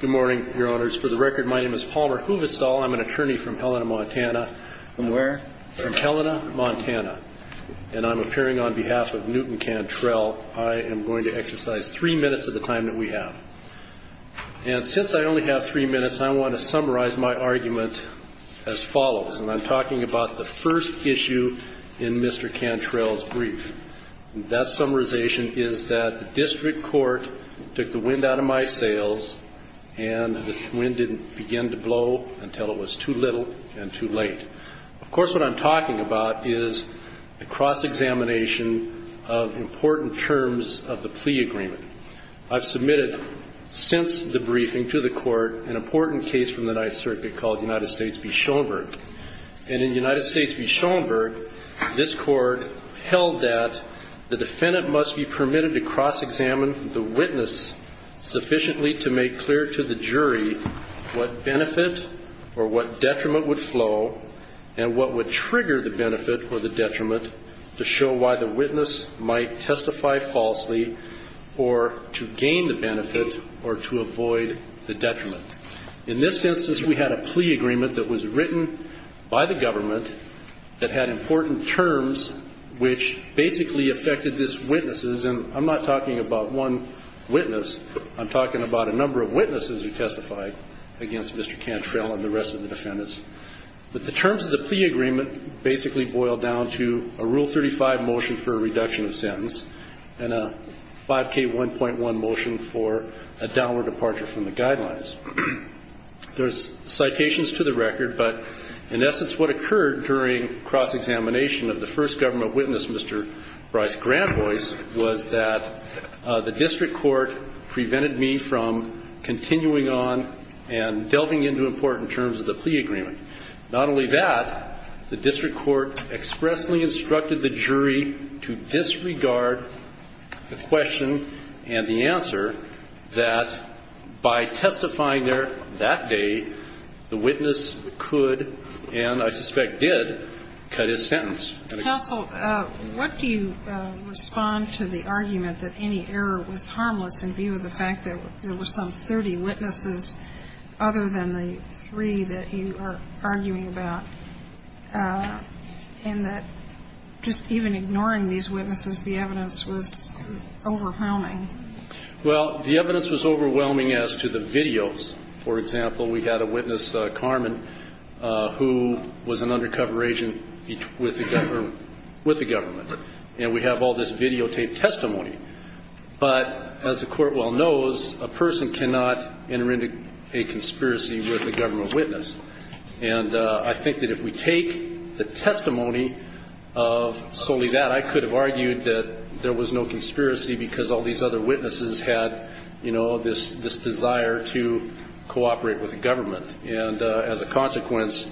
Good morning, Your Honors. For the record, my name is Paul Huvestal. I'm an attorney from Helena, Montana. From where? From Helena, Montana. And I'm appearing on behalf of Newton Cantrell. I am going to exercise three minutes of the time that we have. And since I only have three minutes, I want to summarize my argument as follows. And I'm talking about the first issue in Mr. Cantrell's brief. And that summarization is that the district court took the wind out of my sails and the wind didn't begin to blow until it was too little and too late. Of course, what I'm talking about is a cross-examination of important terms of the plea agreement. I've submitted since the briefing to the court an important case from the Ninth Circuit called United States v. Schoenberg. And in United States v. Schoenberg, this court held that the defendant must be permitted to cross-examine the witness sufficiently to make clear to the jury what benefit or what detriment would flow and what would trigger the benefit or the detriment to show why the witness might testify falsely or to gain the benefit or to avoid the detriment. In this instance, we had a plea agreement that was written by the government that had important terms which basically affected this witness. And I'm not talking about one witness. I'm talking about a number of witnesses who testified against Mr. Cantrell and the rest of the defendants. But the terms of the plea agreement basically boil down to a Rule 35 motion for a reduction of sentence and a 5K1.1 motion for a downward departure from the guidelines. There's citations to the record, but in essence, what occurred during cross-examination of the first government witness, Mr. Bryce Granboys, was that the district court prevented me from continuing on and delving into important terms of the plea agreement. Not only that, the district court expressly instructed the jury to disregard the question and the answer that by testifying there that day, the witness could, and I suspect did, cut his sentence. Counsel, what do you respond to the argument that any error was harmless in view of the fact that there were some 30 witnesses other than the three that you are arguing about, and that just even ignoring these witnesses, the evidence was overwhelming? Well, the evidence was overwhelming as to the videos. For example, we had a witness, Carmen, who was an undercover agent with the government. And we have all this videotaped testimony. But as the Court well knows, a person cannot enter into a conspiracy with a government witness. And I think that if we take the testimony of solely that, I could have argued that there was no conspiracy because all these other witnesses had, you know, this desire to cooperate with the government. And as a consequence,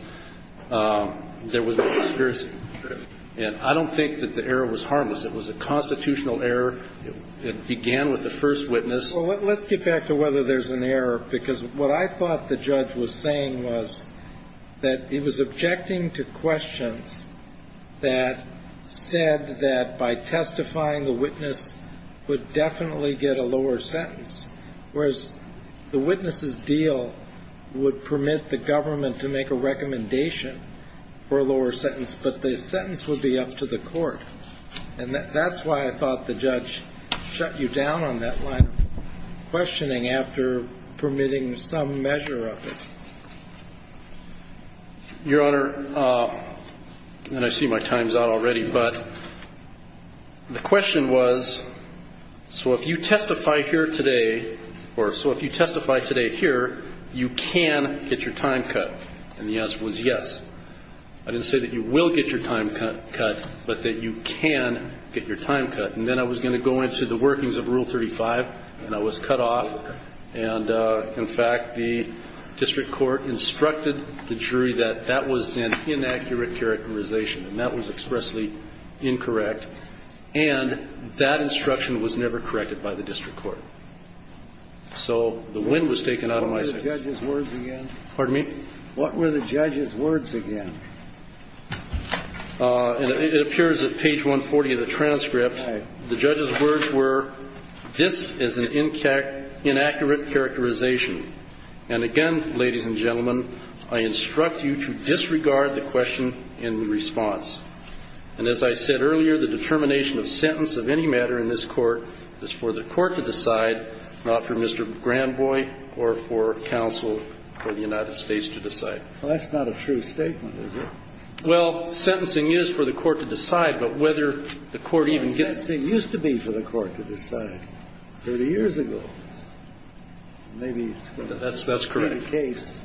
there was no conspiracy. And I don't think that the error was harmless. It was a constitutional error. It began with the first witness. Well, let's get back to whether there's an error, because what I thought the judge was saying was that he was objecting to questions that said that by testifying, the witness would definitely get a lower sentence, whereas the witness's deal would permit the government to make a recommendation for a lower sentence, but the sentence would be up to the Court. And that's why I thought the judge shut you down on that line of questioning after permitting some measure of it. Your Honor, and I see my time's out already, but the question was, so if you testify here today, or so if you testify today here, you can get your time cut. And the answer was yes. I didn't say that you will get your time cut, but that you can get your time cut. And then I was going to go into the workings of Rule 35, and I was cut off. And, in fact, the district court instructed the jury that that was an inaccurate characterization, and that was expressly incorrect. And that instruction was never corrected by the district court. So the wind was taken out of my sails. What were the judge's words again? Pardon me? What were the judge's words again? And it appears at page 140 of the transcript, the judge's words were, this is an inaccurate characterization. And, again, ladies and gentlemen, I instruct you to disregard the question in response. And as I said earlier, the determination of sentence of any matter in this Court is for the Court to decide, not for Mr. Granboy or for counsel or the United States to decide. Well, that's not a true statement, is it? Well, sentencing is for the Court to decide, but whether the Court even gets to decide Sentencing used to be for the Court to decide 30 years ago. Maybe it's going to be the case. That's correct.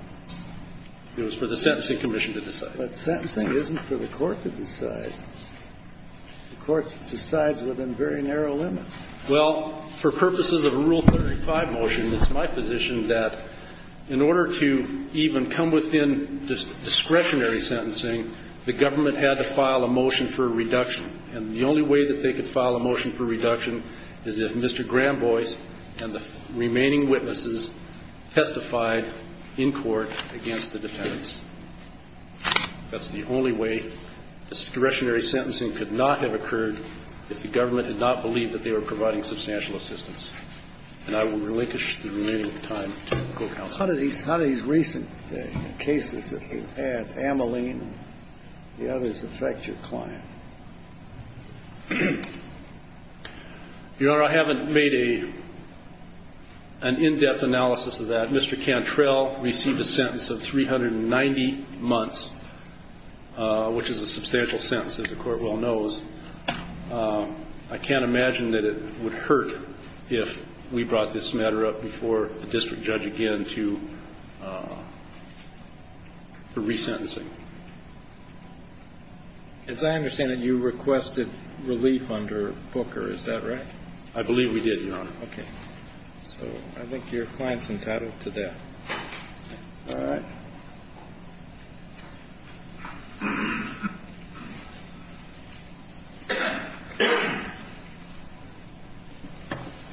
It was for the Sentencing Commission to decide. But sentencing isn't for the Court to decide. The Court decides within very narrow limits. Well, for purposes of Rule 35 motion, it's my position that in order to even come within discretionary sentencing, the government had to file a motion for reduction. And the only way that they could file a motion for reduction is if Mr. Granboy and the remaining witnesses testified in court against the defendants. That's the only way discretionary sentencing could not have occurred if the government did not believe that they were providing substantial assistance. And I would relinquish the remaining time to the Court of Counsel. How do these recent cases that you've had, Ameline and the others, affect your client? Your Honor, I haven't made an in-depth analysis of that. Mr. Cantrell received a sentence of 390 months, which is a substantial sentence, as the Court well knows. I can't imagine that it would hurt if we brought this matter up before the district judge again to resentencing. As I understand it, you requested relief under Booker. Is that right? I believe we did, Your Honor. Okay. So I think your client's entitled to that. All right.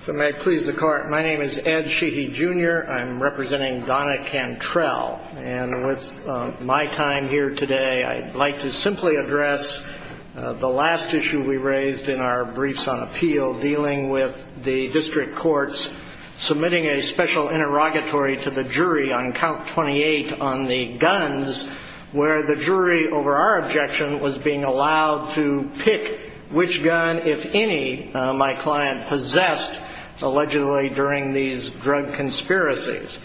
If it may please the Court, my name is Ed Sheehy, Jr. I'm representing Donna Cantrell. And with my time here today, I'd like to simply address the last issue we raised in our briefs on appeal dealing with the district courts submitting a special interrogatory to the jury on count 28 on the guns, where the jury, over our objection, was being allowed to pick which gun, if any, my client possessed, allegedly during these drug conspiracies.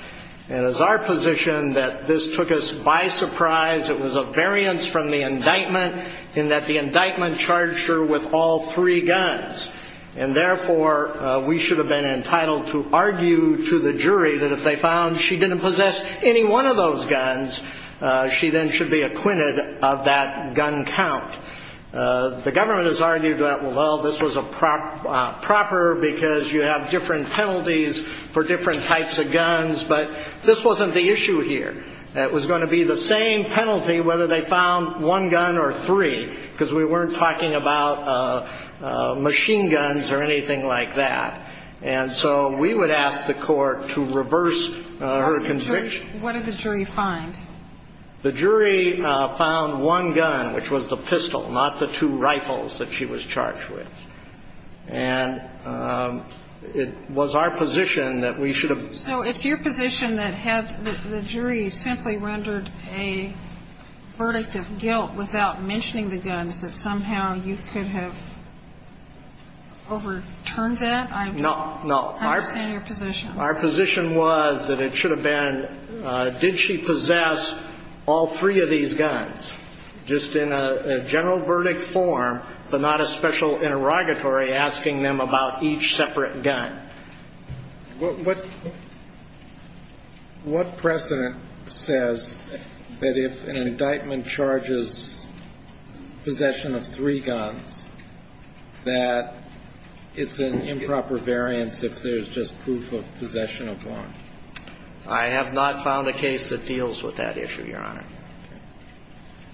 And it is our position that this took us by surprise. It was a variance from the indictment in that the indictment charged her with all three guns. And, therefore, we should have been entitled to argue to the jury that if they found she didn't possess any one of those guns, she then should be acquitted of that gun count. The government has argued that, well, this was proper because you have different penalties for different types of guns. But this wasn't the issue here. It was going to be the same penalty whether they found one gun or three, because we weren't talking about machine guns or anything like that. And so we would ask the court to reverse her conviction. What did the jury find? The jury found one gun, which was the pistol, not the two rifles that she was charged with. And it was our position that we should have been. So it's your position that had the jury simply rendered a verdict of guilt without mentioning the guns, that somehow you could have overturned that? No. I understand your position. Our position was that it should have been, did she possess all three of these guns just in a general verdict form, but not a special interrogatory asking them about each separate gun? And what precedent says that if an indictment charges possession of three guns, that it's an improper variance if there's just proof of possession of one? I have not found a case that deals with that issue, Your Honor.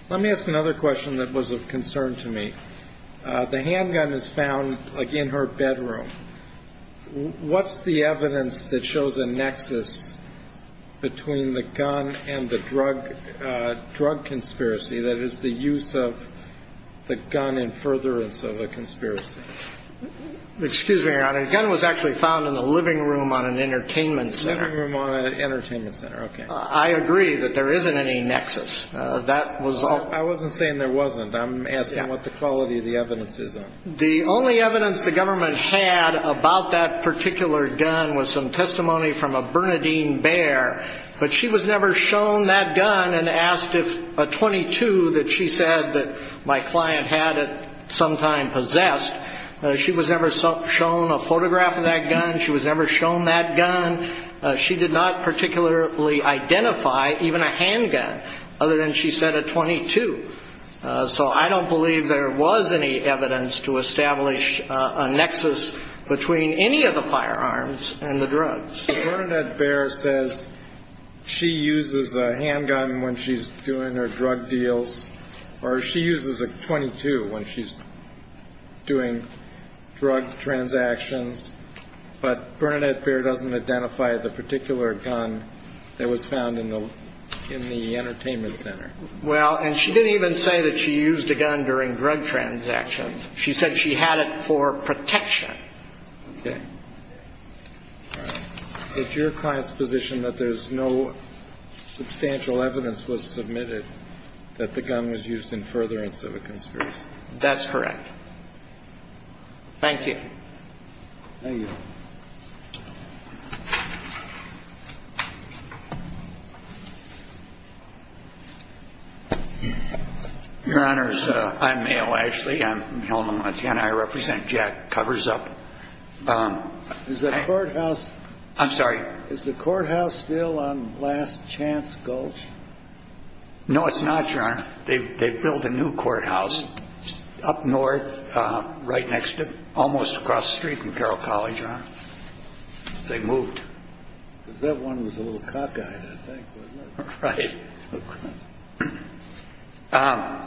Let me ask another question that was of concern to me. The handgun is found, again, her bedroom. What's the evidence that shows a nexus between the gun and the drug conspiracy, that is, the use of the gun in furtherance of a conspiracy? Excuse me, Your Honor. The gun was actually found in the living room on an entertainment center. Living room on an entertainment center. Okay. I agree that there isn't any nexus. That was all. I wasn't saying there wasn't. I'm asking what the quality of the evidence is on it. The only evidence the government had about that particular gun was some testimony from a Bernadine Bear, but she was never shown that gun and asked if a .22 that she said that my client had at some time possessed, she was never shown a photograph of that gun, she was never shown that gun. She did not particularly identify even a handgun other than, she said, a .22. So I don't believe there was any evidence to establish a nexus between any of the firearms and the drugs. Bernadine Bear says she uses a handgun when she's doing her drug deals, or she uses a .22 when she's doing drug transactions, but Bernadine Bear doesn't identify the particular gun that was found in the entertainment center. Well, and she didn't even say that she used a gun during drug transactions. She said she had it for protection. Okay. It's your client's position that there's no substantial evidence was submitted that the gun was used in furtherance of a conspiracy. Thank you. Thank you. Your Honor, I'm Mayo Ashley. I'm from Helmand, Montana. I represent Jack Covers Up. Is the courthouse still on Last Chance Gulch? No, it's not, Your Honor. They built a new courthouse up north, right next to, almost across the street from Carroll College, Your Honor. They moved. Because that one was a little cockeyed, I think, wasn't it? Right.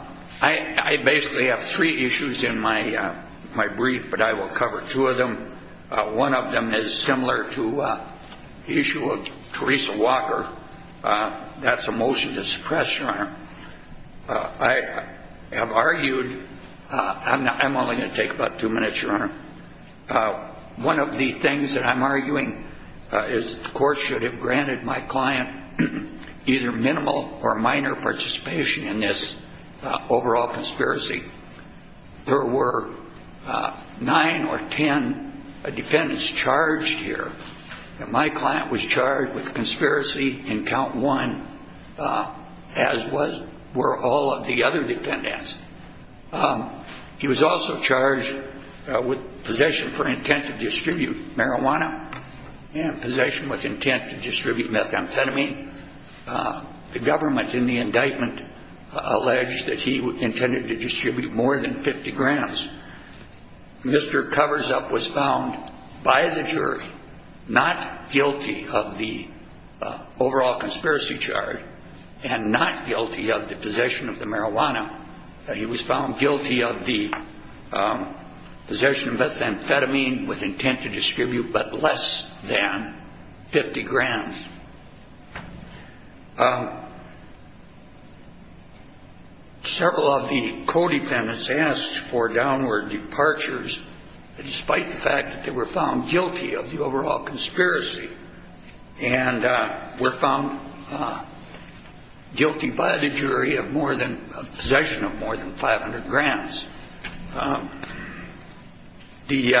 I basically have three issues in my brief, but I will cover two of them. One of them is similar to the issue of Teresa Walker. That's a motion to suppress, Your Honor. I have argued. I'm only going to take about two minutes, Your Honor. One of the things that I'm arguing is the court should have granted my client either minimal or minor participation in this overall conspiracy. There were nine or ten defendants charged here. My client was charged with conspiracy in count one, as were all of the other defendants. He was also charged with possession for intent to distribute marijuana and possession with intent to distribute methamphetamine. The government in the indictment alleged that he intended to distribute more than 50 grams. Mr. Covers Up was found by the jury not guilty of the overall conspiracy charge and not guilty of the possession of the marijuana. He was found guilty of the possession of methamphetamine with intent to distribute but less than 50 grams. Several of the co-defendants asked for downward departures, despite the fact that they were found guilty of the overall conspiracy. And were found guilty by the jury of possession of more than 500 grams. The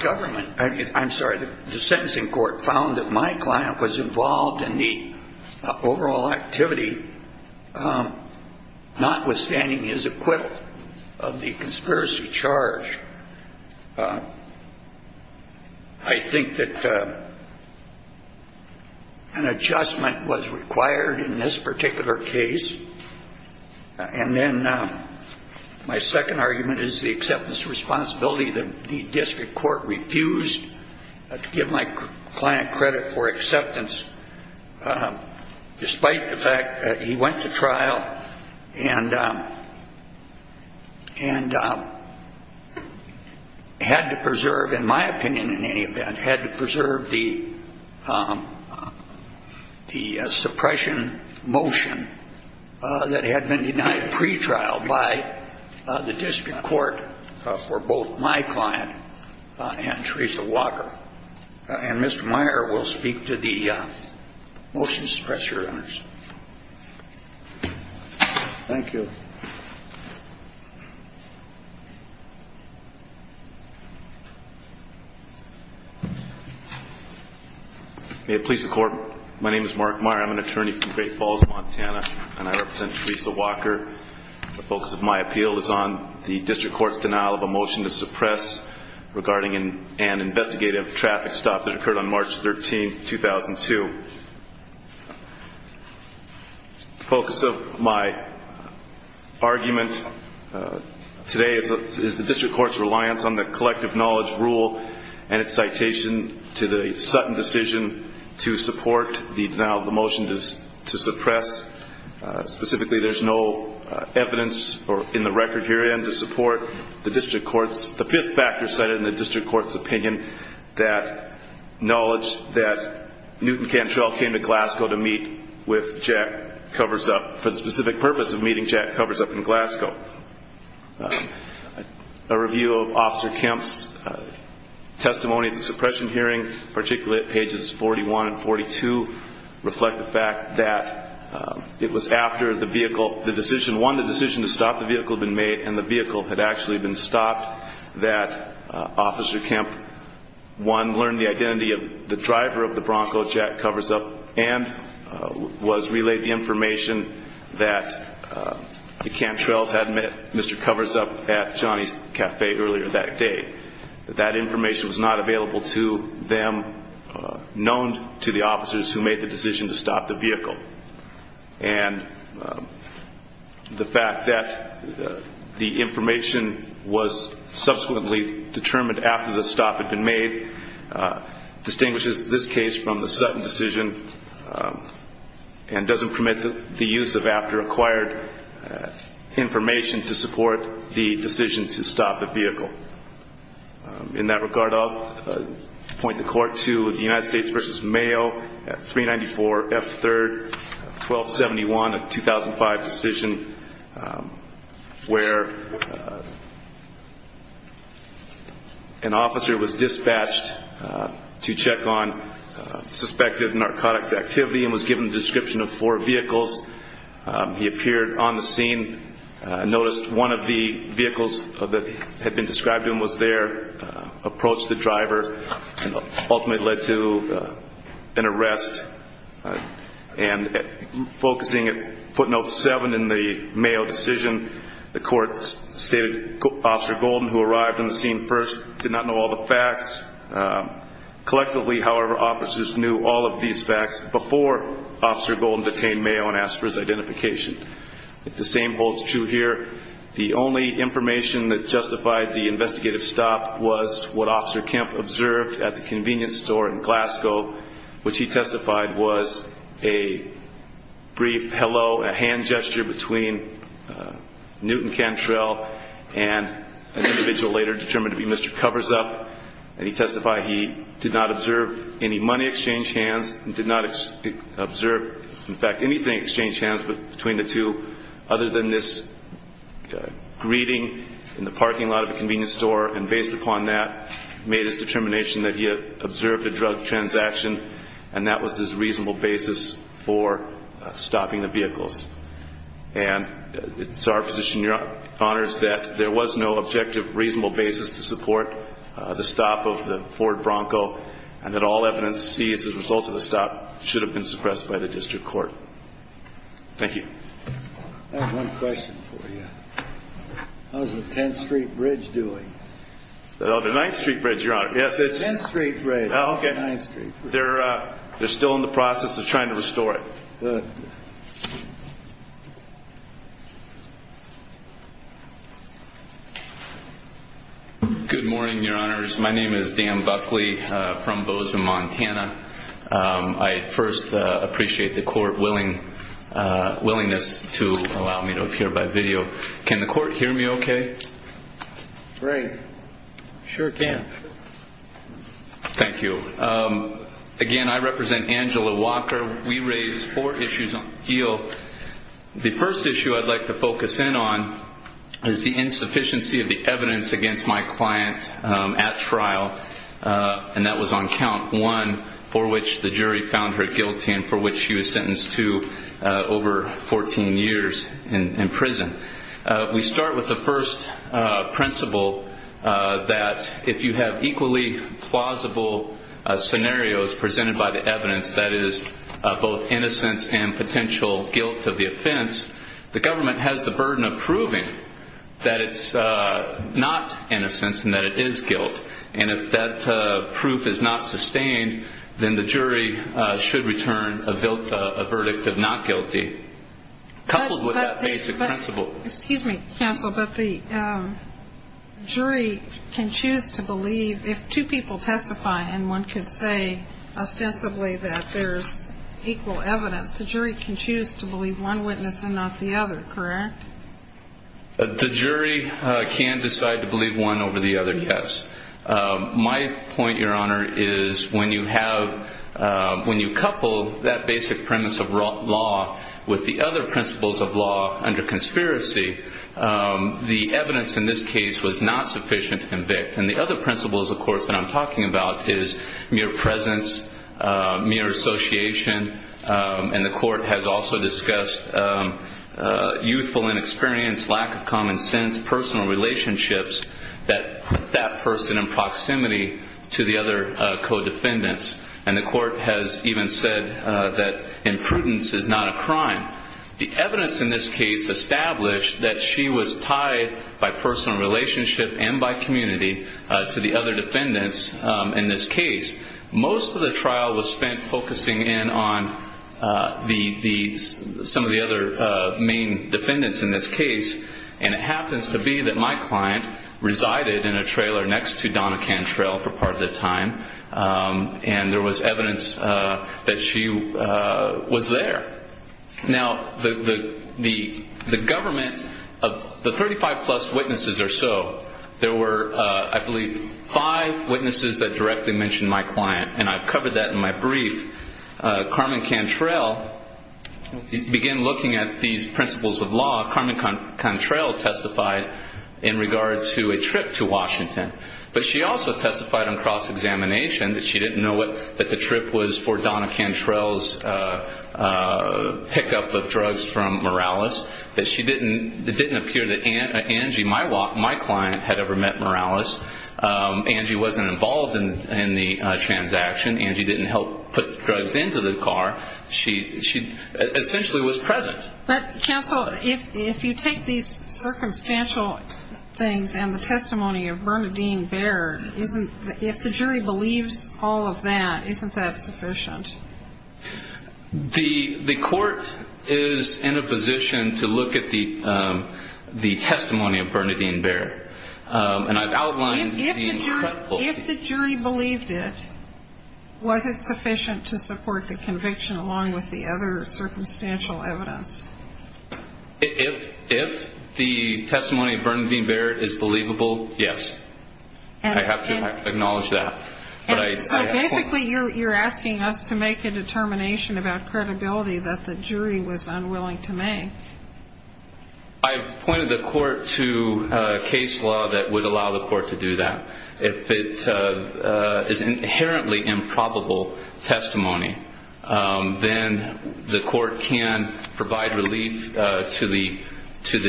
government, I'm sorry, the sentencing court found that my client was involved in the overall activity, notwithstanding his acquittal of the conspiracy charge. I think that an adjustment was required in this particular case. And then my second argument is the acceptance responsibility that the district court refused to give my client credit for acceptance, despite the fact that he went to trial and had to preserve, in my opinion in any event, had to preserve the suppression motion that had been denied pretrial by the district court for both my client and Teresa Walker. And Mr. Meyer will speak to the motion to suppress your evidence. Thank you. May it please the court, my name is Mark Meyer. I'm an attorney from Great Falls, Montana, and I represent Teresa Walker. The focus of my appeal is on the district court's denial of a motion to suppress regarding an investigative traffic stop that occurred on March 13, 2002. The focus of my argument today is the district court's reliance on the collective knowledge rule and its citation to the Sutton decision to support the denial of the motion to suppress. Specifically, there's no evidence in the record herein to support the district court's, the fifth factor cited in the district court's opinion, that knowledge that Newton Cantrell came to Glasgow to meet with Jack Covers Up for the specific purpose of meeting Jack Covers Up in Glasgow. A review of Officer Kemp's testimony at the suppression hearing, particularly at pages 41 and 42, reflect the fact that it was after the vehicle, the decision, one, the decision to stop the vehicle had been made and the vehicle had actually been stopped, that Officer Kemp, one, learned the identity of the driver of the Bronco, Jack Covers Up, and was relayed the information that the Cantrells had met Mr. Covers Up at Johnny's Cafe earlier that day. That information was not available to them, known to the officers who made the decision to stop the vehicle. And the fact that the information was subsequently determined after the stop had been made distinguishes this case from the Sutton decision and doesn't permit the use of after-acquired information to support the decision to stop the vehicle. In that regard, I'll point the court to the United States v. Mayo at 394 F. 3rd, 1271, a 2005 decision where an officer was dispatched to check on suspected narcotics activity and was given the description of four vehicles. He appeared on the scene, noticed one of the vehicles that had been described to him was there, approached the driver, and ultimately led to an arrest. And focusing at footnote 7 in the Mayo decision, the court stated Officer Golden, who arrived on the scene first, did not know all the facts. Collectively, however, officers knew all of these facts before Officer Golden detained Mayo and asked for his identification. The same holds true here. The only information that justified the investigative stop was what Officer Kemp observed at the convenience store in Glasgow, which he testified was a brief hello, a hand gesture between Newton Cantrell and an individual later determined to be Mr. Coversup. And he testified he did not observe any money exchanged hands and did not observe, in fact, anything exchanged hands between the two other than this greeting in the parking lot of the convenience store. And based upon that, made his determination that he had observed a drug transaction, and that was his reasonable basis for stopping the vehicles. And it's our position, Your Honors, that there was no objective, reasonable basis to support the stop of the Ford Bronco and that all evidence seized as a result of the stop should have been suppressed by the district court. Thank you. I have one question for you. How's the 10th Street Bridge doing? The 9th Street Bridge, Your Honor. The 10th Street Bridge. Oh, okay. The 9th Street Bridge. They're still in the process of trying to restore it. Good morning, Your Honors. My name is Dan Buckley from Bozeman, Montana. I first appreciate the court willingness to allow me to appear by video. Can the court hear me okay? Great. Sure can. Thank you. Again, I represent Angela Walker. We raised four issues on appeal. The first issue I'd like to focus in on is the insufficiency of the evidence against my client at trial, and that was on count one. For which the jury found her guilty and for which she was sentenced to over 14 years in prison. We start with the first principle that if you have equally plausible scenarios presented by the evidence that is both innocence and potential guilt of the offense, the government has the burden of proving that it's not innocence and that it is guilt. And if that proof is not sustained, then the jury should return a verdict of not guilty, coupled with that basic principle. Excuse me, counsel, but the jury can choose to believe if two people testify and one could say ostensibly that there's equal evidence, the jury can choose to believe one witness and not the other, correct? The jury can decide to believe one over the other, yes. My point, Your Honor, is when you couple that basic premise of law with the other principles of law under conspiracy, the evidence in this case was not sufficient to convict. And the other principles, of course, that I'm talking about is mere presence, mere association, and the court has also discussed youthful inexperience, lack of common sense, personal relationships that put that person in proximity to the other co-defendants. And the court has even said that imprudence is not a crime. The evidence in this case established that she was tied by personal relationship and by community to the other defendants in this case. Most of the trial was spent focusing in on some of the other main defendants in this case, and it happens to be that my client resided in a trailer next to Donna Cantrell for part of the time, and there was evidence that she was there. Now, the government of the 35-plus witnesses or so, there were, I believe, five witnesses that directly mentioned my client, and I've covered that in my brief. Carmen Cantrell began looking at these principles of law. Carmen Cantrell testified in regard to a trip to Washington, but she also testified on cross-examination that she didn't know that the trip was for Donna Cantrell's pickup of drugs from Morales, that it didn't appear that Angie, my client, had ever met Morales. Angie wasn't involved in the transaction. Angie didn't help put drugs into the car. She essentially was present. But, counsel, if you take these circumstantial things and the testimony of Bernadine Baird, if the jury believes all of that, isn't that sufficient? The court is in a position to look at the testimony of Bernadine Baird, and I've outlined the instructions. If the jury believed it, was it sufficient to support the conviction along with the other circumstantial evidence? If the testimony of Bernadine Baird is believable, yes. I have to acknowledge that. So basically you're asking us to make a determination about credibility that the jury was unwilling to make. I've pointed the court to case law that would allow the court to do that. If it is inherently improbable testimony, then the court can provide relief to the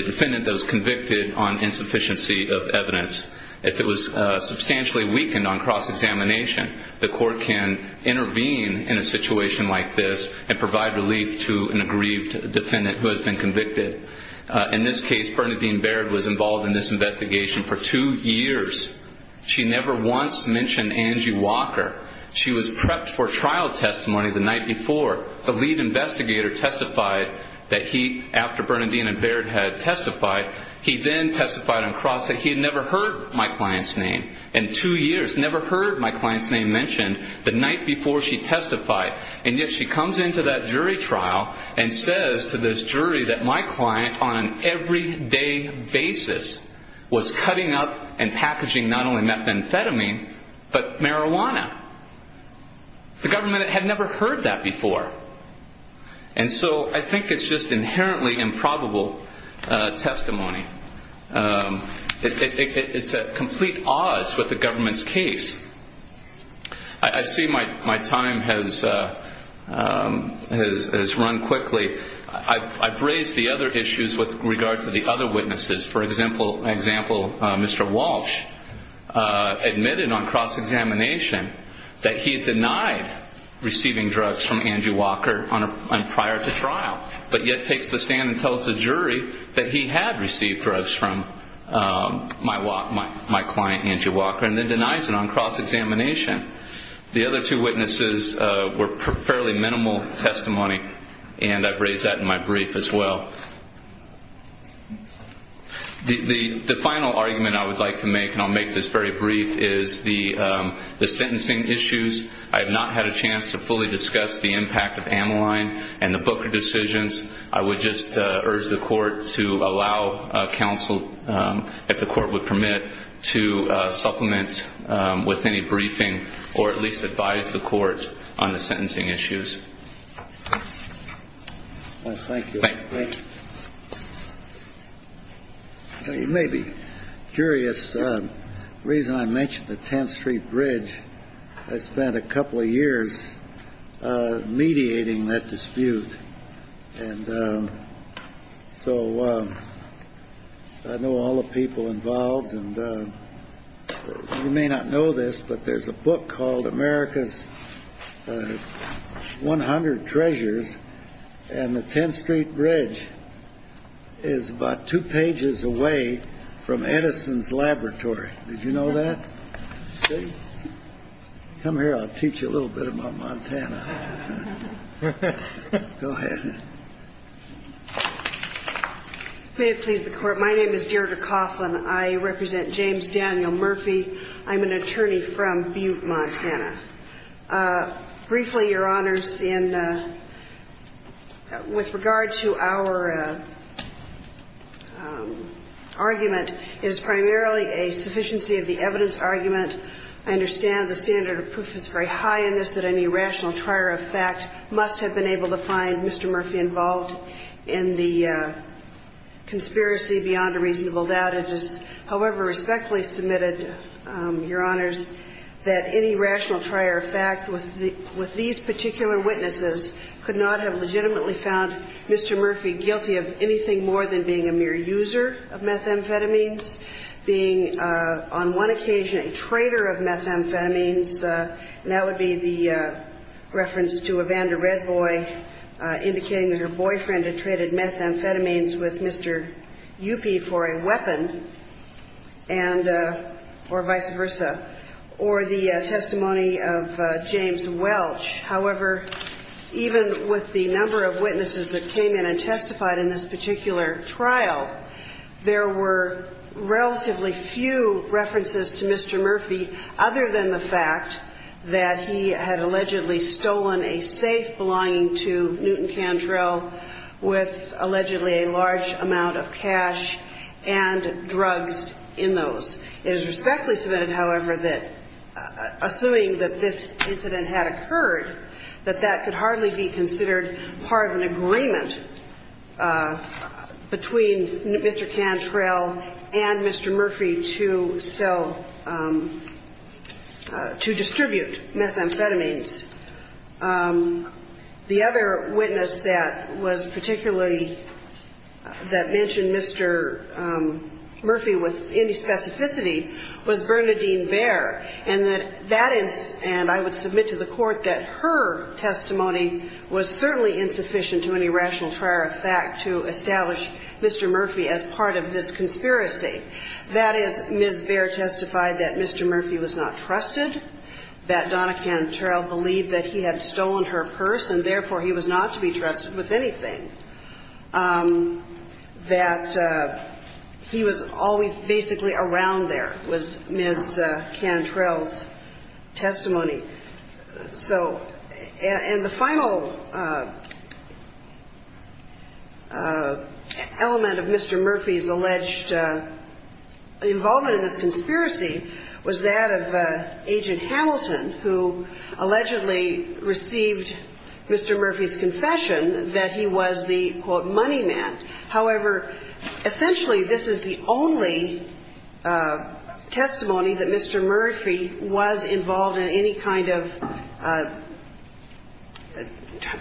defendant that was convicted on insufficiency of evidence. If it was substantially weakened on cross-examination, the court can intervene in a situation like this and provide relief to an aggrieved defendant who has been convicted. In this case, Bernadine Baird was involved in this investigation for two years. She never once mentioned Angie Walker. She was prepped for trial testimony the night before. The lead investigator testified that he, after Bernadine Baird had testified, he then testified on cross that he had never heard my client's name in two years, never heard my client's name mentioned the night before she testified. And yet she comes into that jury trial and says to this jury that my client on an everyday basis was cutting up and packaging not only methamphetamine but marijuana. The government had never heard that before. And so I think it's just inherently improbable testimony. It's at complete odds with the government's case. I see my time has run quickly. I've raised the other issues with regard to the other witnesses. For example, Mr. Walsh admitted on cross-examination that he denied receiving drugs from Angie Walker prior to trial but yet takes the stand and tells the jury that he had received drugs from my client, Angie Walker, and then denies it on cross-examination. The other two witnesses were fairly minimal testimony, and I've raised that in my brief as well. The final argument I would like to make, and I'll make this very brief, is the sentencing issues. I have not had a chance to fully discuss the impact of Ameline and the Booker decisions. I would just urge the court to allow counsel, if the court would permit, to supplement with any briefing or at least advise the court on the sentencing issues. Thank you. You may be curious, the reason I mentioned the 10th Street Bridge, I spent a couple of years mediating that dispute, and so I know all the people involved. You may not know this, but there's a book called America's 100 Treasures, and the 10th Street Bridge is about two pages away from Edison's laboratory. Did you know that? Come here, I'll teach you a little bit about Montana. Go ahead. May it please the Court. My name is Deirdre Coughlin. I represent James Daniel Murphy. I'm an attorney from Butte, Montana. Briefly, Your Honors, with regard to our argument, it is primarily a sufficiency of the evidence argument. I understand the standard of proof is very high in this that any rational trier of fact must have been able to find Mr. Murphy involved in the conspiracy beyond a reasonable doubt. However, respectfully submitted, Your Honors, that any rational trier of fact with these particular witnesses could not have legitimately found Mr. Murphy guilty of anything more than being a mere user of methamphetamines, being on one occasion a trader of methamphetamines. And that would be the reference to Evander Redboy indicating that her boyfriend had traded methamphetamines with Mr. Murphy for a weapon or vice versa, or the testimony of James Welch. However, even with the number of witnesses that came in and testified in this particular trial, there were relatively few references to Mr. Murphy other than the fact that he had allegedly stolen a safe belonging to and drugs in those. It is respectfully submitted, however, that assuming that this incident had occurred, that that could hardly be considered part of an agreement between Mr. Cantrell and Mr. Murphy to sell, to distribute methamphetamines. The other witness that was particularly, that mentioned Mr. Murphy with any specificity was Bernadine Baer. And that is, and I would submit to the Court that her testimony was certainly insufficient to any rational trier of fact to establish Mr. Murphy as part of this conspiracy. That is, Ms. Baer testified that Mr. Murphy was not trusted, that Donna Cantrell believed that he had stolen her purse and therefore he was not to be trusted with anything, that he was always basically around there, was Ms. Cantrell's testimony. So, and the final element of Mr. Murphy's alleged involvement in this conspiracy was that of H.G. Hamilton, who allegedly received Mr. Murphy's confession that he was the, quote, money man. However, essentially this is the only testimony that Mr. Murphy was involved in any kind of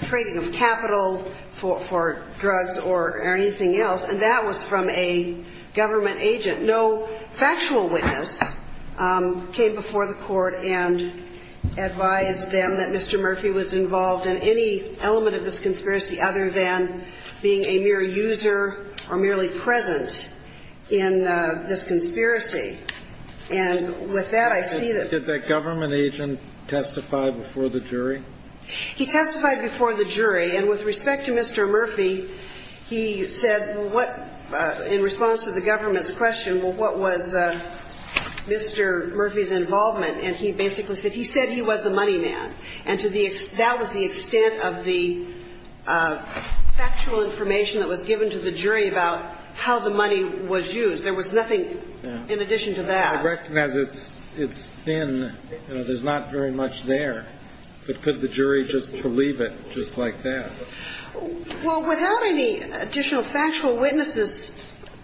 trading of capital for drugs or anything else, and that was from a government agent. But no factual witness came before the Court and advised them that Mr. Murphy was involved in any element of this conspiracy other than being a mere user or merely present in this conspiracy. And with that, I see that the government agent testified before the jury. He testified before the jury, and with respect to Mr. Murphy, he said what, in response to the government's question, what was Mr. Murphy's involvement, and he basically said he said he was the money man. And that was the extent of the factual information that was given to the jury about how the money was used. There was nothing in addition to that. I recognize it's thin. There's not very much there, but could the jury just believe it just like that? Well, without any additional factual witnesses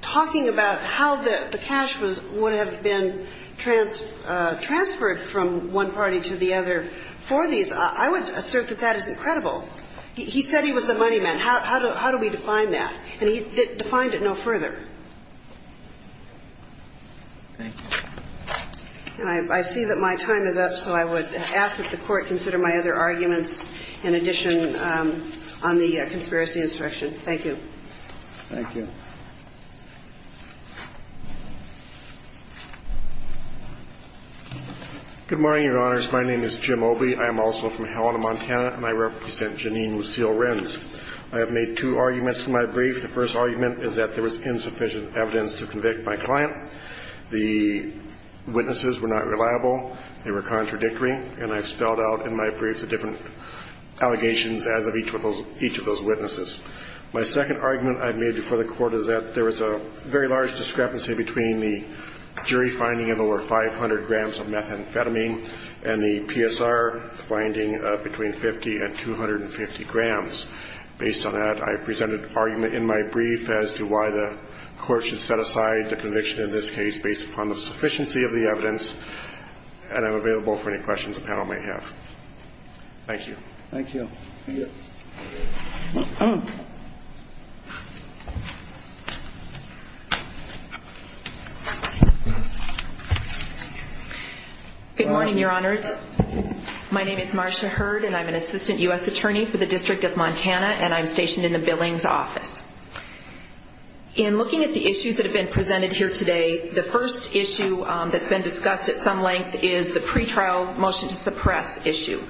talking about how the cash was, would have been transferred from one party to the other for these, I would assert that that is incredible. He said he was the money man. How do we define that? And he defined it no further. And I see that my time is up, so I would ask that the Court consider my other arguments in addition on the conspiracy instruction. Thank you. Thank you. Good morning, Your Honors. My name is Jim Obey. I am also from Helena, Montana, and I represent Janine Lucille Renz. I have made two arguments in my brief. The first argument is that there was insufficient evidence to convict my client. The witnesses were not reliable. They were contradictory. And I've spelled out in my brief the different allegations as of each of those witnesses. My second argument I've made before the Court is that there was a very large discrepancy between the jury finding of over 500 grams of methamphetamine and the PSR finding of between 50 and 250 grams. Based on that, I presented an argument in my brief as to why the Court should set aside the conviction in this case based upon the sufficiency of the evidence. And I'm available for any questions the panel may have. Thank you. Thank you. Good morning, Your Honors. My name is Marcia Hurd, and I'm an assistant U.S. attorney for the District of Montana, and I'm stationed in the Billings office. In looking at the issues that have been presented here today, the first issue that's been discussed at some length is the pretrial motion to suppress issue.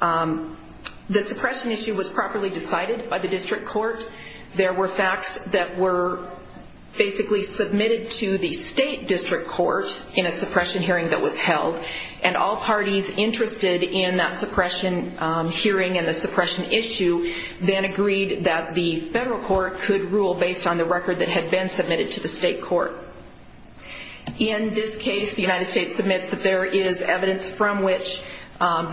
The suppression issue was properly decided by the District Court. There were facts that were basically submitted to the State District Court in a suppression hearing that was held, and all parties interested in that suppression hearing and the suppression issue then agreed that the federal court could rule based on the record that had been submitted to the state court. In this case, the United States submits that there is evidence from which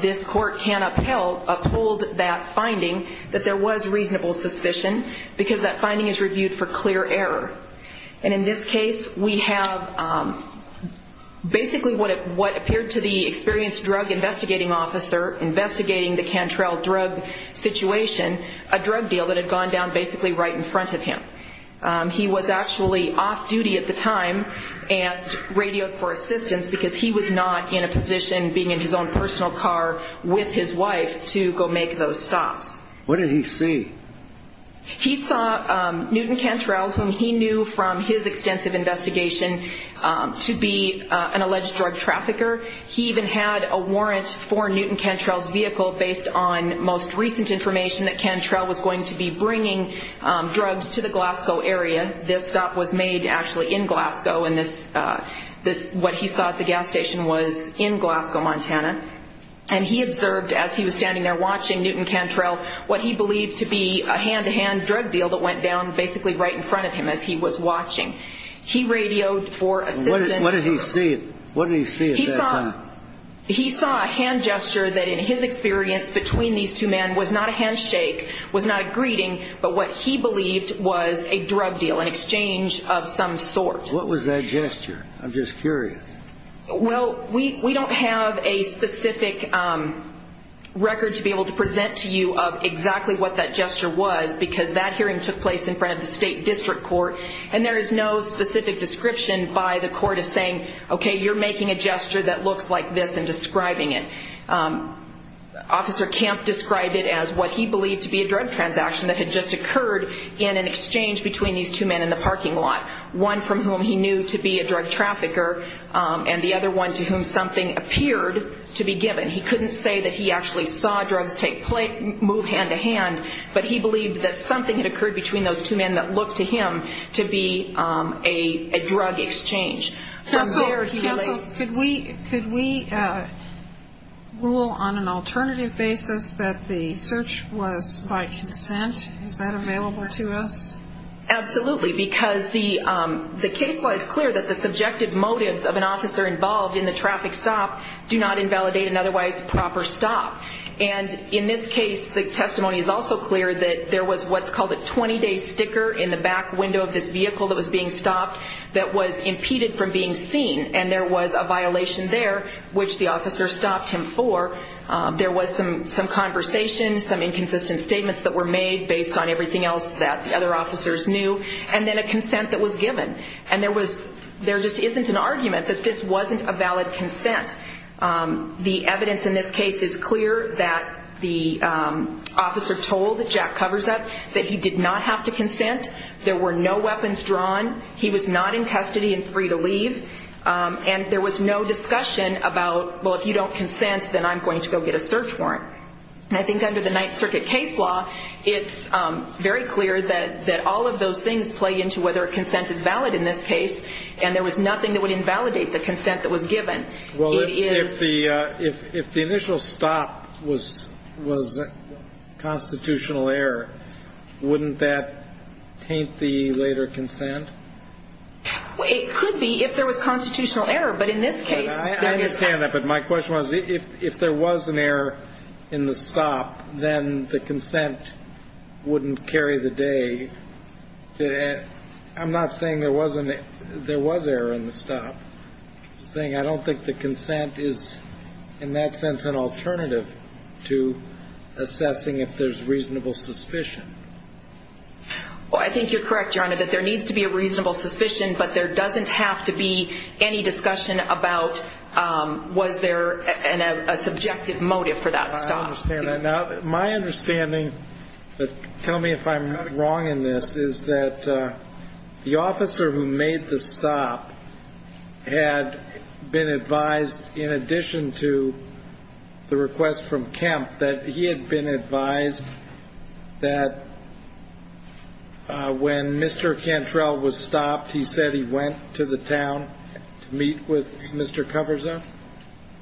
this court can uphold that finding, that there was reasonable suspicion because that finding is reviewed for clear error. And in this case, we have basically what appeared to the experienced drug investigating officer investigating the Cantrell drug situation, a drug deal that had gone down basically right in front of him. He was actually off duty at the time and radioed for assistance because he was not in a position, being in his own personal car with his wife, to go make those stops. What did he see? He saw Newton Cantrell, whom he knew from his extensive investigation, to be an alleged drug trafficker. He even had a warrant for Newton Cantrell's vehicle based on most recent information that Cantrell was going to be bringing drugs to the Glasgow area. This stop was made actually in Glasgow, and what he saw at the gas station was in Glasgow, Montana. And he observed, as he was standing there watching Newton Cantrell, what he believed to be a hand-to-hand drug deal that went down basically right in front of him as he was watching. He radioed for assistance. What did he see? What did he see at that time? He saw a hand gesture that in his experience between these two men was not a handshake, was not a greeting, but what he believed was a drug deal, an exchange of some sort. What was that gesture? I'm just curious. Well, we don't have a specific record to be able to present to you of exactly what that gesture was because that hearing took place in front of the state district court, and there is no specific description by the court of saying, okay, you're making a gesture that looks like this and describing it. Officer Camp described it as what he believed to be a drug transaction that had just occurred in an exchange between these two men in the parking lot, one from whom he knew to be a drug trafficker and the other one to whom something appeared to be given. He couldn't say that he actually saw drugs move hand-to-hand, but he believed that something had occurred between those two men that looked to him to be a drug exchange. Counsel, could we rule on an alternative basis that the search was by consent? Is that available to us? Absolutely, because the case law is clear that the subjective motives of an officer involved in the traffic stop do not invalidate an otherwise proper stop. And in this case, the testimony is also clear that there was what's called a 20-day sticker in the back window of this vehicle that was being stopped that was impeded from being seen, and there was a violation there, which the officer stopped him for. There was some conversation, some inconsistent statements that were made based on everything else that the other officers knew, and then a consent that was given. And there just isn't an argument that this wasn't a valid consent. The evidence in this case is clear that the officer told Jack Coversup that he did not have to consent. There were no weapons drawn. He was not in custody and free to leave. And there was no discussion about, well, if you don't consent, then I'm going to go get a search warrant. And I think under the Ninth Circuit case law, it's very clear that all of those things play into whether a consent is valid in this case, and there was nothing that would invalidate the consent that was given. Well, if the initial stop was constitutional error, wouldn't that taint the later consent? It could be if there was constitutional error, but in this case, there is not. I understand that, but my question was, if there was an error in the stop, then the consent wouldn't carry the day. I'm not saying there was error in the stop. I'm saying I don't think the consent is, in that sense, an alternative to assessing if there's reasonable suspicion. Well, I think you're correct, Your Honor, that there needs to be a reasonable suspicion, but there doesn't have to be any discussion about was there a subjective motive for that stop. I understand that. Now, my understanding, but tell me if I'm wrong in this, is that the officer who made the stop had been advised, in addition to the request from Kemp, that he had been advised that when Mr. Cantrell was stopped, he said he went to the town to meet with Mr. Coverzone?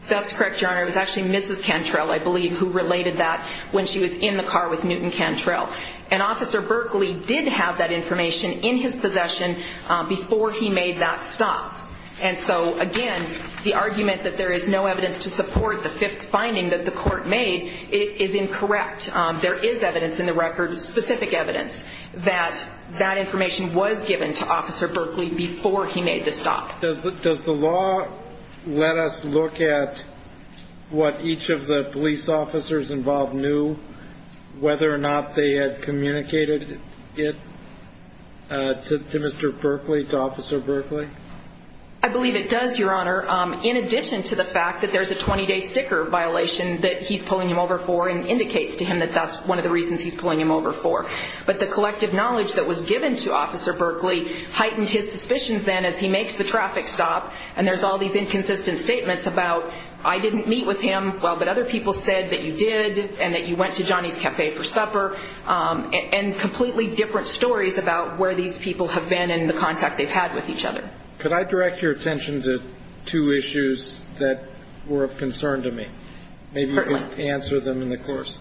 That's correct, Your Honor. It was actually Mrs. Cantrell, I believe, who related that when she was in the car with Newton Cantrell. And Officer Berkeley did have that information in his possession before he made that stop. And so, again, the argument that there is no evidence to support the fifth finding that the court made is incorrect. There is evidence in the record, specific evidence, that that information was given to Officer Berkeley before he made the stop. Does the law let us look at what each of the police officers involved knew, whether or not they had communicated it to Mr. Berkeley, to Officer Berkeley? I believe it does, Your Honor, in addition to the fact that there's a 20-day sticker violation that he's pulling him over for and indicates to him that that's one of the reasons he's pulling him over for. But the collective knowledge that was given to Officer Berkeley heightened his suspicions then as he makes the traffic stop, and there's all these inconsistent statements about, I didn't meet with him, well, but other people said that you did, and that you went to Johnny's Cafe for supper, and completely different stories about where these people have been and the contact they've had with each other. Could I direct your attention to two issues that were of concern to me? Certainly. Maybe you can answer them in the course.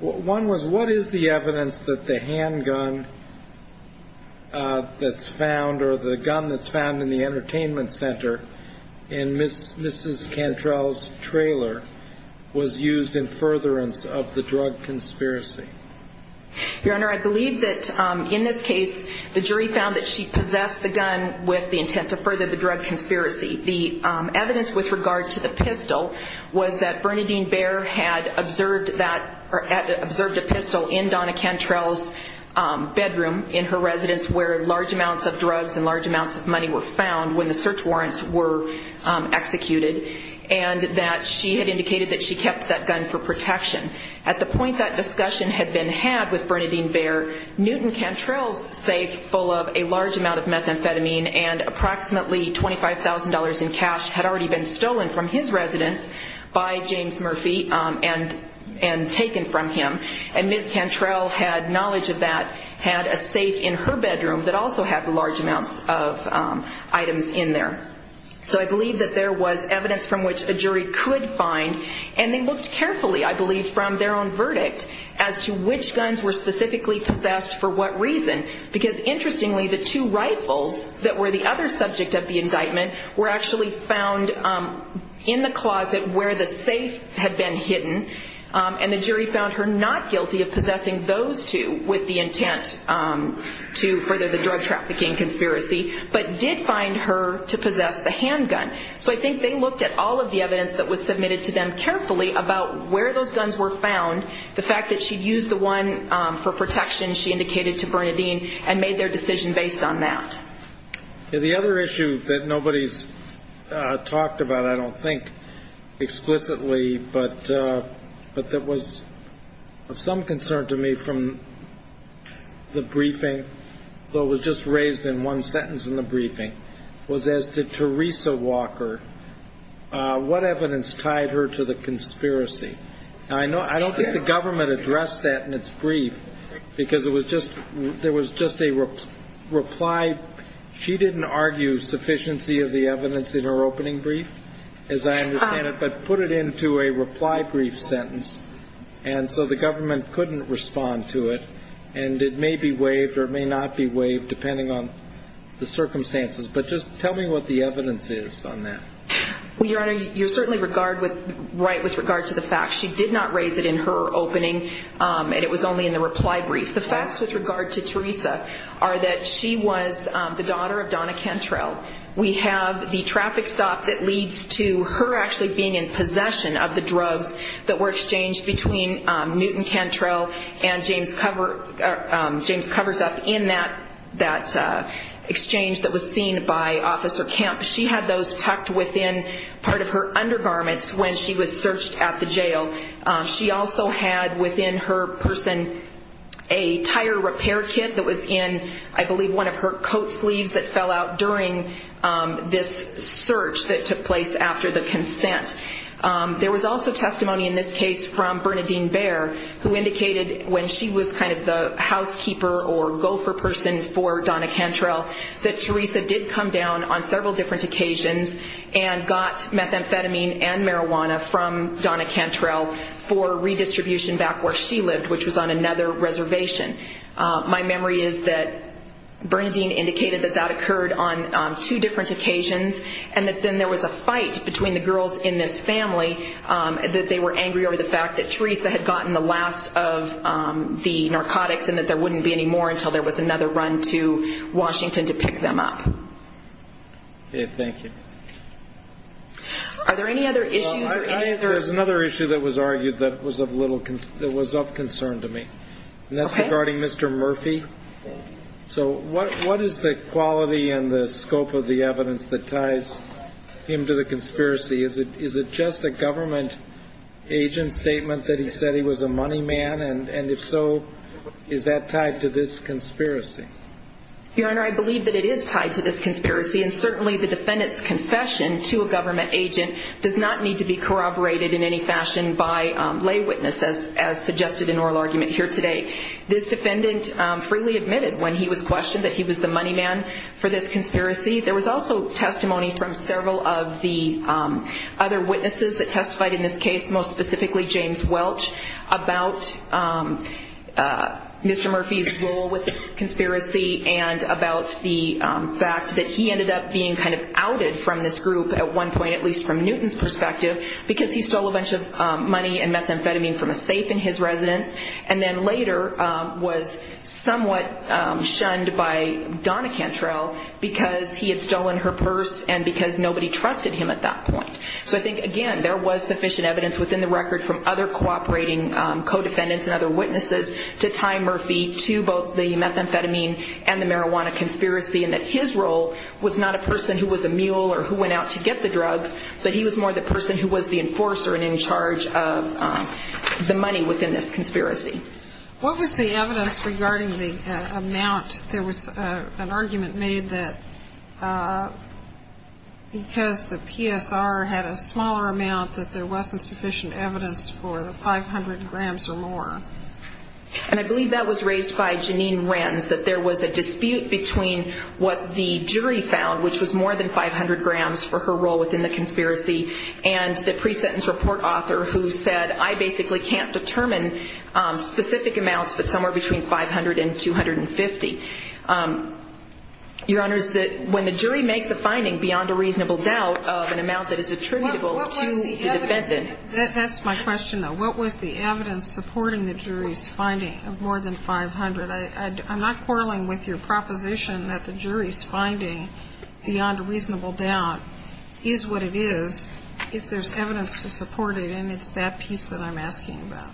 One was what is the evidence that the handgun that's found, or the gun that's found in the entertainment center in Mrs. Cantrell's trailer was used in furtherance of the drug conspiracy? Your Honor, I believe that in this case, the jury found that she possessed the gun with the intent to further the drug conspiracy. The evidence with regard to the pistol was that Bernadine Baer had observed a pistol in Donna Cantrell's bedroom in her residence where large amounts of drugs and large amounts of money were found when the search warrants were executed, and that she had indicated that she kept that gun for protection. At the point that discussion had been had with Bernadine Baer, Newton-Cantrell's safe full of a large amount of methamphetamine and approximately $25,000 in cash had already been stolen from his residence by James Murphy and taken from him, and Ms. Cantrell had knowledge of that, had a safe in her bedroom that also had large amounts of items in there. So I believe that there was evidence from which a jury could find, and they looked carefully, I believe, from their own verdict as to which guns were specifically possessed for what reason, because interestingly, the two rifles that were the other subject of the indictment were actually found in the closet where the safe had been hidden, and the jury found her not guilty of possessing those two with the intent to further the drug trafficking conspiracy, but did find her to possess the handgun. So I think they looked at all of the evidence that was submitted to them carefully about where those guns were found, the fact that she'd used the one for protection she indicated to Bernadine and made their decision based on that. The other issue that nobody's talked about, I don't think, explicitly, but that was of some concern to me from the briefing, though it was just raised in one sentence in the briefing, was as to Teresa Walker, what evidence tied her to the conspiracy? I don't think the government addressed that in its brief, because there was just a reply. She didn't argue sufficiency of the evidence in her opening brief, as I understand it, but put it into a reply brief sentence, and so the government couldn't respond to it, and it may be waived or it may not be waived depending on the circumstances. But just tell me what the evidence is on that. Well, Your Honor, you're certainly right with regard to the facts. She did not raise it in her opening, and it was only in the reply brief. The facts with regard to Teresa are that she was the daughter of Donna Cantrell. We have the traffic stop that leads to her actually being in possession of the drugs that were exchanged between Newton Cantrell and James Coversup in that exchange that was seen by Officer Camp. She had those tucked within part of her undergarments when she was searched at the jail. She also had within her person a tire repair kit that was in, I believe, one of her coat sleeves that fell out during this search that took place after the consent. There was also testimony in this case from Bernadine Baer, who indicated when she was kind of the housekeeper or gopher person for Donna Cantrell, that Teresa did come down on several different occasions and got methamphetamine and marijuana from Donna Cantrell for redistribution back where she lived, which was on another reservation. My memory is that Bernadine indicated that that occurred on two different occasions and that then there was a fight between the girls in this family, that they were angry over the fact that Teresa had gotten the last of the narcotics and that there wouldn't be any more until there was another run to Washington to pick them up. Okay, thank you. Are there any other issues? There's another issue that was argued that was of concern to me, and that's regarding Mr. Murphy. So what is the quality and the scope of the evidence that ties him to the conspiracy? Is it just a government agent statement that he said he was a money man? And if so, is that tied to this conspiracy? Your Honor, I believe that it is tied to this conspiracy, and certainly the defendant's confession to a government agent does not need to be corroborated in any fashion by lay witnesses as suggested in oral argument here today. This defendant freely admitted when he was questioned that he was the money man for this conspiracy. There was also testimony from several of the other witnesses that testified in this case, most specifically James Welch, about Mr. Murphy's role with the conspiracy and about the fact that he ended up being kind of outed from this group at one point, at least from Newton's perspective, because he stole a bunch of money and methamphetamine from a safe in his residence and then later was somewhat shunned by Donna Cantrell because he had stolen her purse and because nobody trusted him at that point. So I think, again, there was sufficient evidence within the record from other cooperating co-defendants and other witnesses to tie Murphy to both the methamphetamine and the marijuana conspiracy and that his role was not a person who was a mule or who went out to get the drugs, but he was more the person who was the enforcer and in charge of the money within this conspiracy. What was the evidence regarding the amount? There was an argument made that because the PSR had a smaller amount, that there wasn't sufficient evidence for the 500 grams or more. And I believe that was raised by Jeanine Renz, that there was a dispute between what the jury found, which was more than 500 grams for her role within the conspiracy, and the pre-sentence report author who said, I basically can't determine specific amounts but somewhere between 500 and 250. Your Honors, when the jury makes a finding beyond a reasonable doubt of an amount that is attributable to the defendant. That's my question, though. What was the evidence supporting the jury's finding of more than 500? I'm not quarreling with your proposition that the jury's finding beyond a reasonable doubt is what it is if there's evidence to support it, and it's that piece that I'm asking about.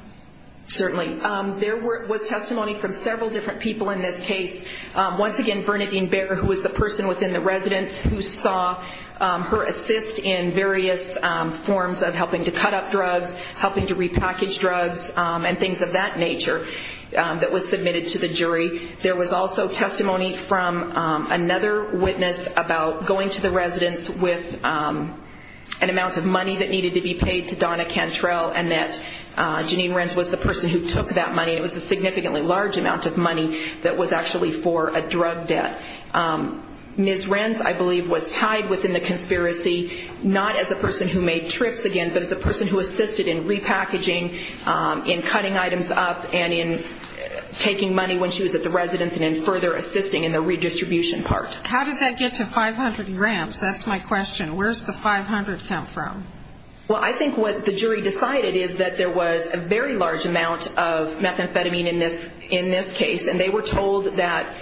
Certainly. There was testimony from several different people in this case. Once again, Bernadine Baer, who was the person within the residence who saw her assist in various forms of helping to cut up drugs, helping to repackage drugs, and things of that nature that was submitted to the jury. There was also testimony from another witness about going to the residence with an amount of money that needed to be paid to Donna Cantrell, and that Jeanine Renz was the person who took that money. It was a significantly large amount of money that was actually for a drug debt. Ms. Renz, I believe, was tied within the conspiracy, not as a person who made trips again, but as a person who assisted in repackaging, in cutting items up, and in taking money when she was at the residence and in further assisting in the redistribution part. How did that get to 500 grams? That's my question. Where does the 500 come from? Well, I think what the jury decided is that there was a very large amount of methamphetamine in this case, and they were told that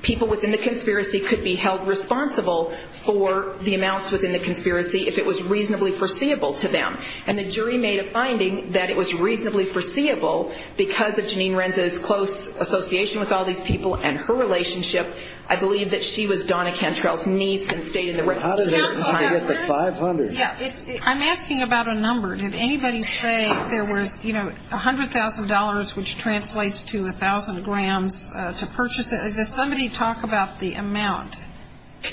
people within the conspiracy could be held responsible for the amounts within the conspiracy if it was reasonably foreseeable to them. And the jury made a finding that it was reasonably foreseeable, because of Jeanine Renz's close association with all these people and her relationship, I believe that she was Donna Cantrell's niece and stayed in the residence. How did it get to 500? I'm asking about a number. Did anybody say there was $100,000, which translates to 1,000 grams, to purchase it? Did somebody talk about the amount?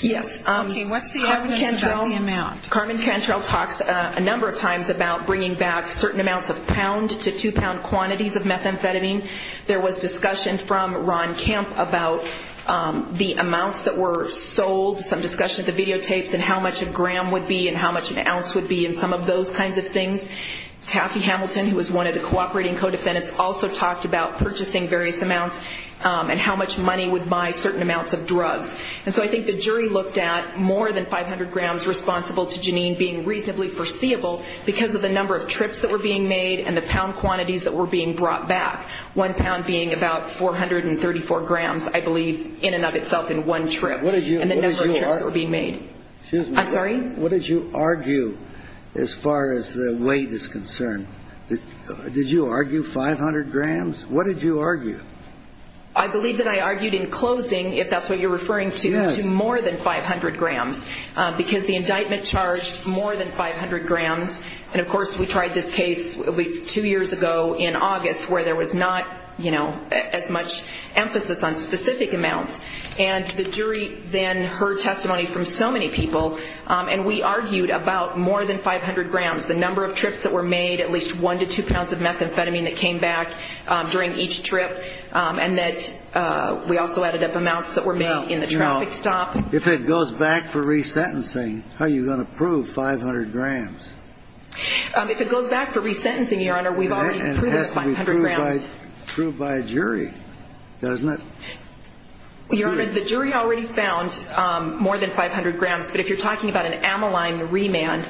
Yes. Okay, what's the evidence about the amount? Carmen Cantrell talks a number of times about bringing back certain amounts of pound to two-pound quantities of methamphetamine. There was discussion from Ron Camp about the amounts that were sold, some discussion of the videotapes and how much a gram would be and how much an ounce would be and some of those kinds of things. Taffy Hamilton, who was one of the cooperating co-defendants, also talked about purchasing various amounts and how much money would buy certain amounts of drugs. And so I think the jury looked at more than 500 grams responsible to Jeanine being reasonably foreseeable because of the number of trips that were being made and the pound quantities that were being brought back, one pound being about 434 grams, I believe, in and of itself in one trip and the number of trips that were being made. Excuse me. I'm sorry? What did you argue as far as the weight is concerned? Did you argue 500 grams? What did you argue? I believe that I argued in closing, if that's what you're referring to, to more than 500 grams because the indictment charged more than 500 grams. And, of course, we tried this case two years ago in August where there was not as much emphasis on specific amounts. And the jury then heard testimony from so many people, and we argued about more than 500 grams, the number of trips that were made, at least one to two pounds of methamphetamine that came back during each trip, and that we also added up amounts that were made in the traffic stop. If it goes back for resentencing, how are you going to prove 500 grams? If it goes back for resentencing, Your Honor, we've already proved 500 grams. And it has to be proved by a jury, doesn't it? Your Honor, the jury already found more than 500 grams, but if you're talking about an amyline remand,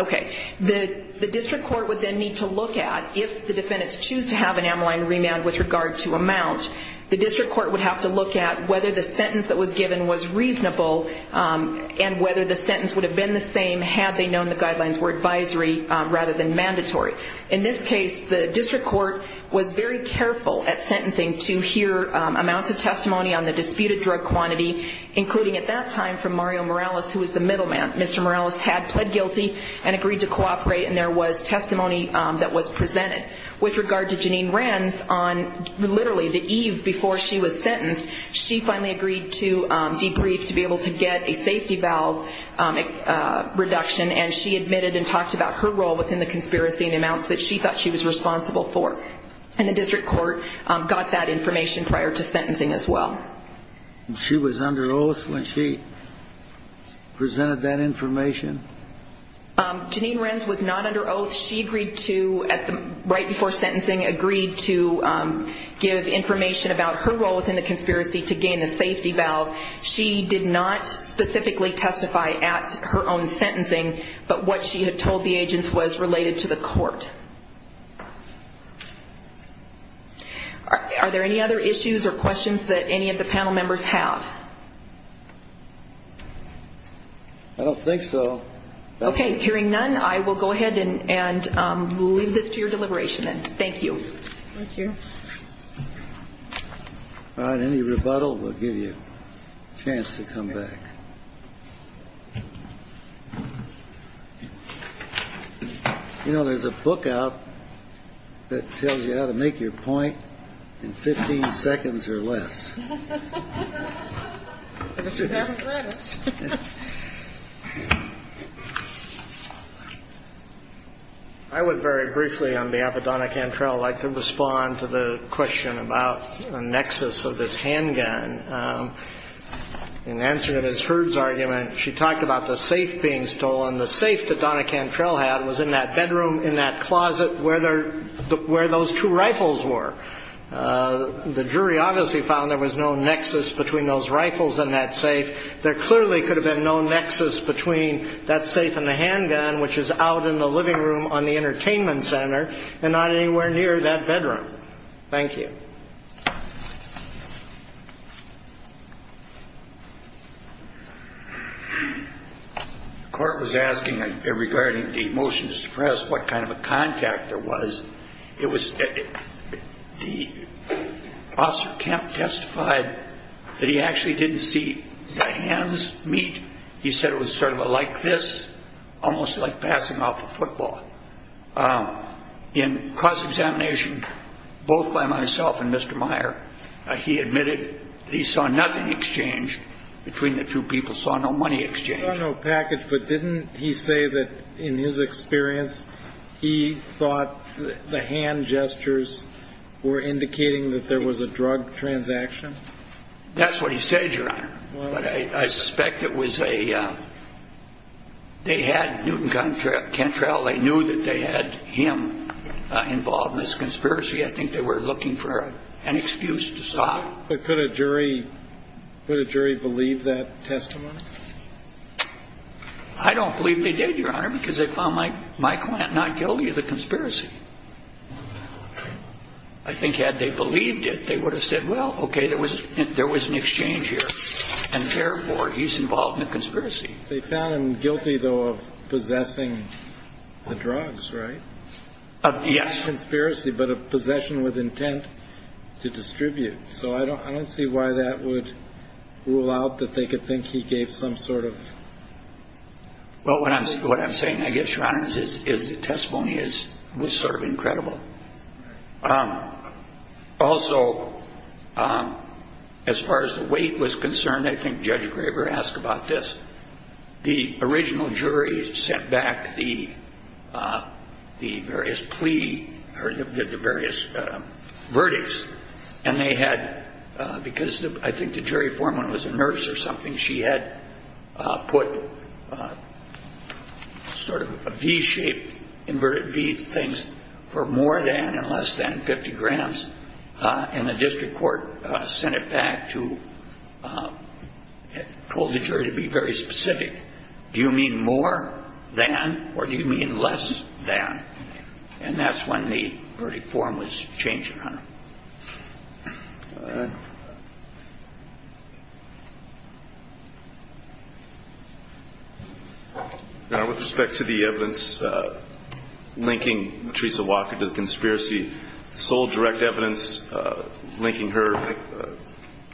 the district court would then need to look at, if the defendants choose to have an amyline remand with regard to amount, the district court would have to look at whether the sentence that was given was reasonable and whether the sentence would have been the same had they known the guidelines were advisory rather than mandatory. In this case, the district court was very careful at sentencing to hear amounts of testimony on the disputed drug quantity, including at that time from Mario Morales, who was the middleman. Mr. Morales had pled guilty and agreed to cooperate, and there was testimony that was presented. With regard to Jeanine Rands, on literally the eve before she was sentenced, she finally agreed to debrief to be able to get a safety valve reduction, and she admitted and talked about her role within the conspiracy and the amounts that she thought she was responsible for. And the district court got that information prior to sentencing as well. She was under oath when she presented that information? Jeanine Rands was not under oath. She agreed to, right before sentencing, agree to give information about her role within the conspiracy to gain the safety valve. She did not specifically testify at her own sentencing, but what she had told the agents was related to the court. Are there any other issues or questions that any of the panel members have? I don't think so. Okay. Hearing none, I will go ahead and leave this to your deliberation then. Thank you. Thank you. All right. Any rebuttal will give you a chance to come back. You know, there's a book out that tells you how to make your point in 15 seconds or less. I would very briefly, on behalf of Donna Cantrell, like to respond to the question about the nexus of this handgun. In answer to Ms. Hurd's argument, she talked about the safe being stolen. The safe that Donna Cantrell had was in that bedroom in that closet where those two rifles were. The jury obviously found there was no nexus between those rifles and that safe. There clearly could have been no nexus between that safe and the handgun, which is out in the living room on the entertainment center and not anywhere near that bedroom. Thank you. The court was asking, regarding the motion to suppress, what kind of a contact there was. Officer Kemp testified that he actually didn't see the hands meet. He said it was sort of like this, almost like passing off a football. In cross-examination, both by myself and Mr. Meyer, he admitted that he saw nothing exchanged between the two people, saw no money exchanged. He saw no package, but didn't he say that, in his experience, he thought the hand gestures were indicating that there was a drug transaction? That's what he said, Your Honor. I suspect it was a – they had Newton Cantrell. They knew that they had him involved in this conspiracy. I think they were looking for an excuse to stop. But could a jury believe that testimony? I don't believe they did, Your Honor, because they found my client not guilty of the conspiracy. I think had they believed it, they would have said, well, okay, there was an exchange here, and therefore he's involved in a conspiracy. They found him guilty, though, of possessing the drugs, right? Yes. Conspiracy, but a possession with intent to distribute. So I don't see why that would rule out that they could think he gave some sort of – Well, what I'm saying, I guess, Your Honor, is the testimony was sort of incredible. Also, as far as the weight was concerned, I think Judge Graber asked about this. The original jury sent back the various plea or the various verdicts, and they had – because I think the jury foreman was a nurse or something, she had put sort of a V-shaped, inverted V things for more than and less than 50 grams, and the district court sent it back to – told the jury to be very specific. Do you mean more than or do you mean less than? And that's when the verdict form was changed, Your Honor. With respect to the evidence linking Theresa Walker to the conspiracy, the sole direct evidence linking her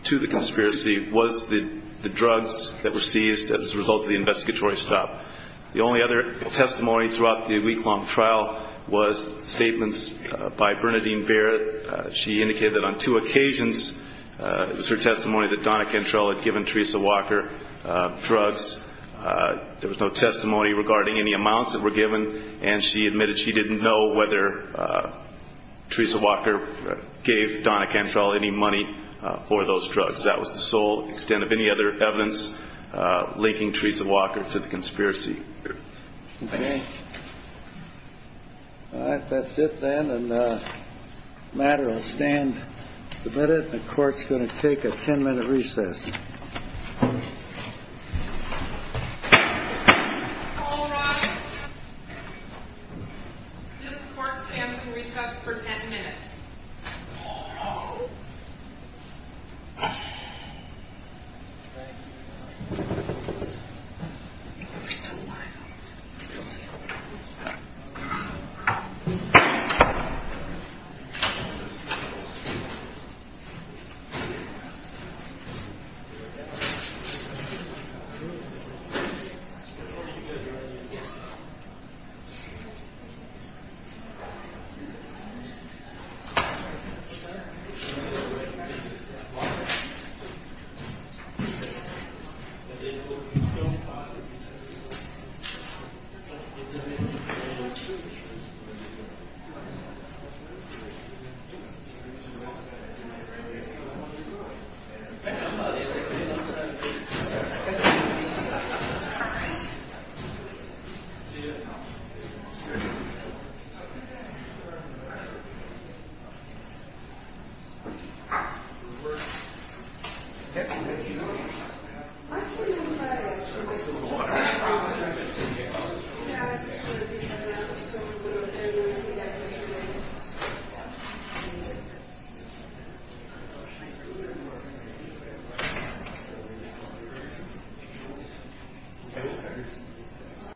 to the conspiracy was the drugs that were seized as a result of the investigatory stop. The only other testimony throughout the week-long trial was statements by Bernadine Barrett, she indicated that on two occasions it was her testimony that Donna Cantrell had given Theresa Walker drugs. There was no testimony regarding any amounts that were given, and she admitted she didn't know whether Theresa Walker gave Donna Cantrell any money for those drugs. That was the sole extent of any other evidence linking Theresa Walker to the conspiracy. Okay. All right, that's it then, and the matter will stand submitted, and the court's going to take a 10-minute recess. All rise. This court stands in recess for 10 minutes. Oh, no. You're still alive. All right. Thank you.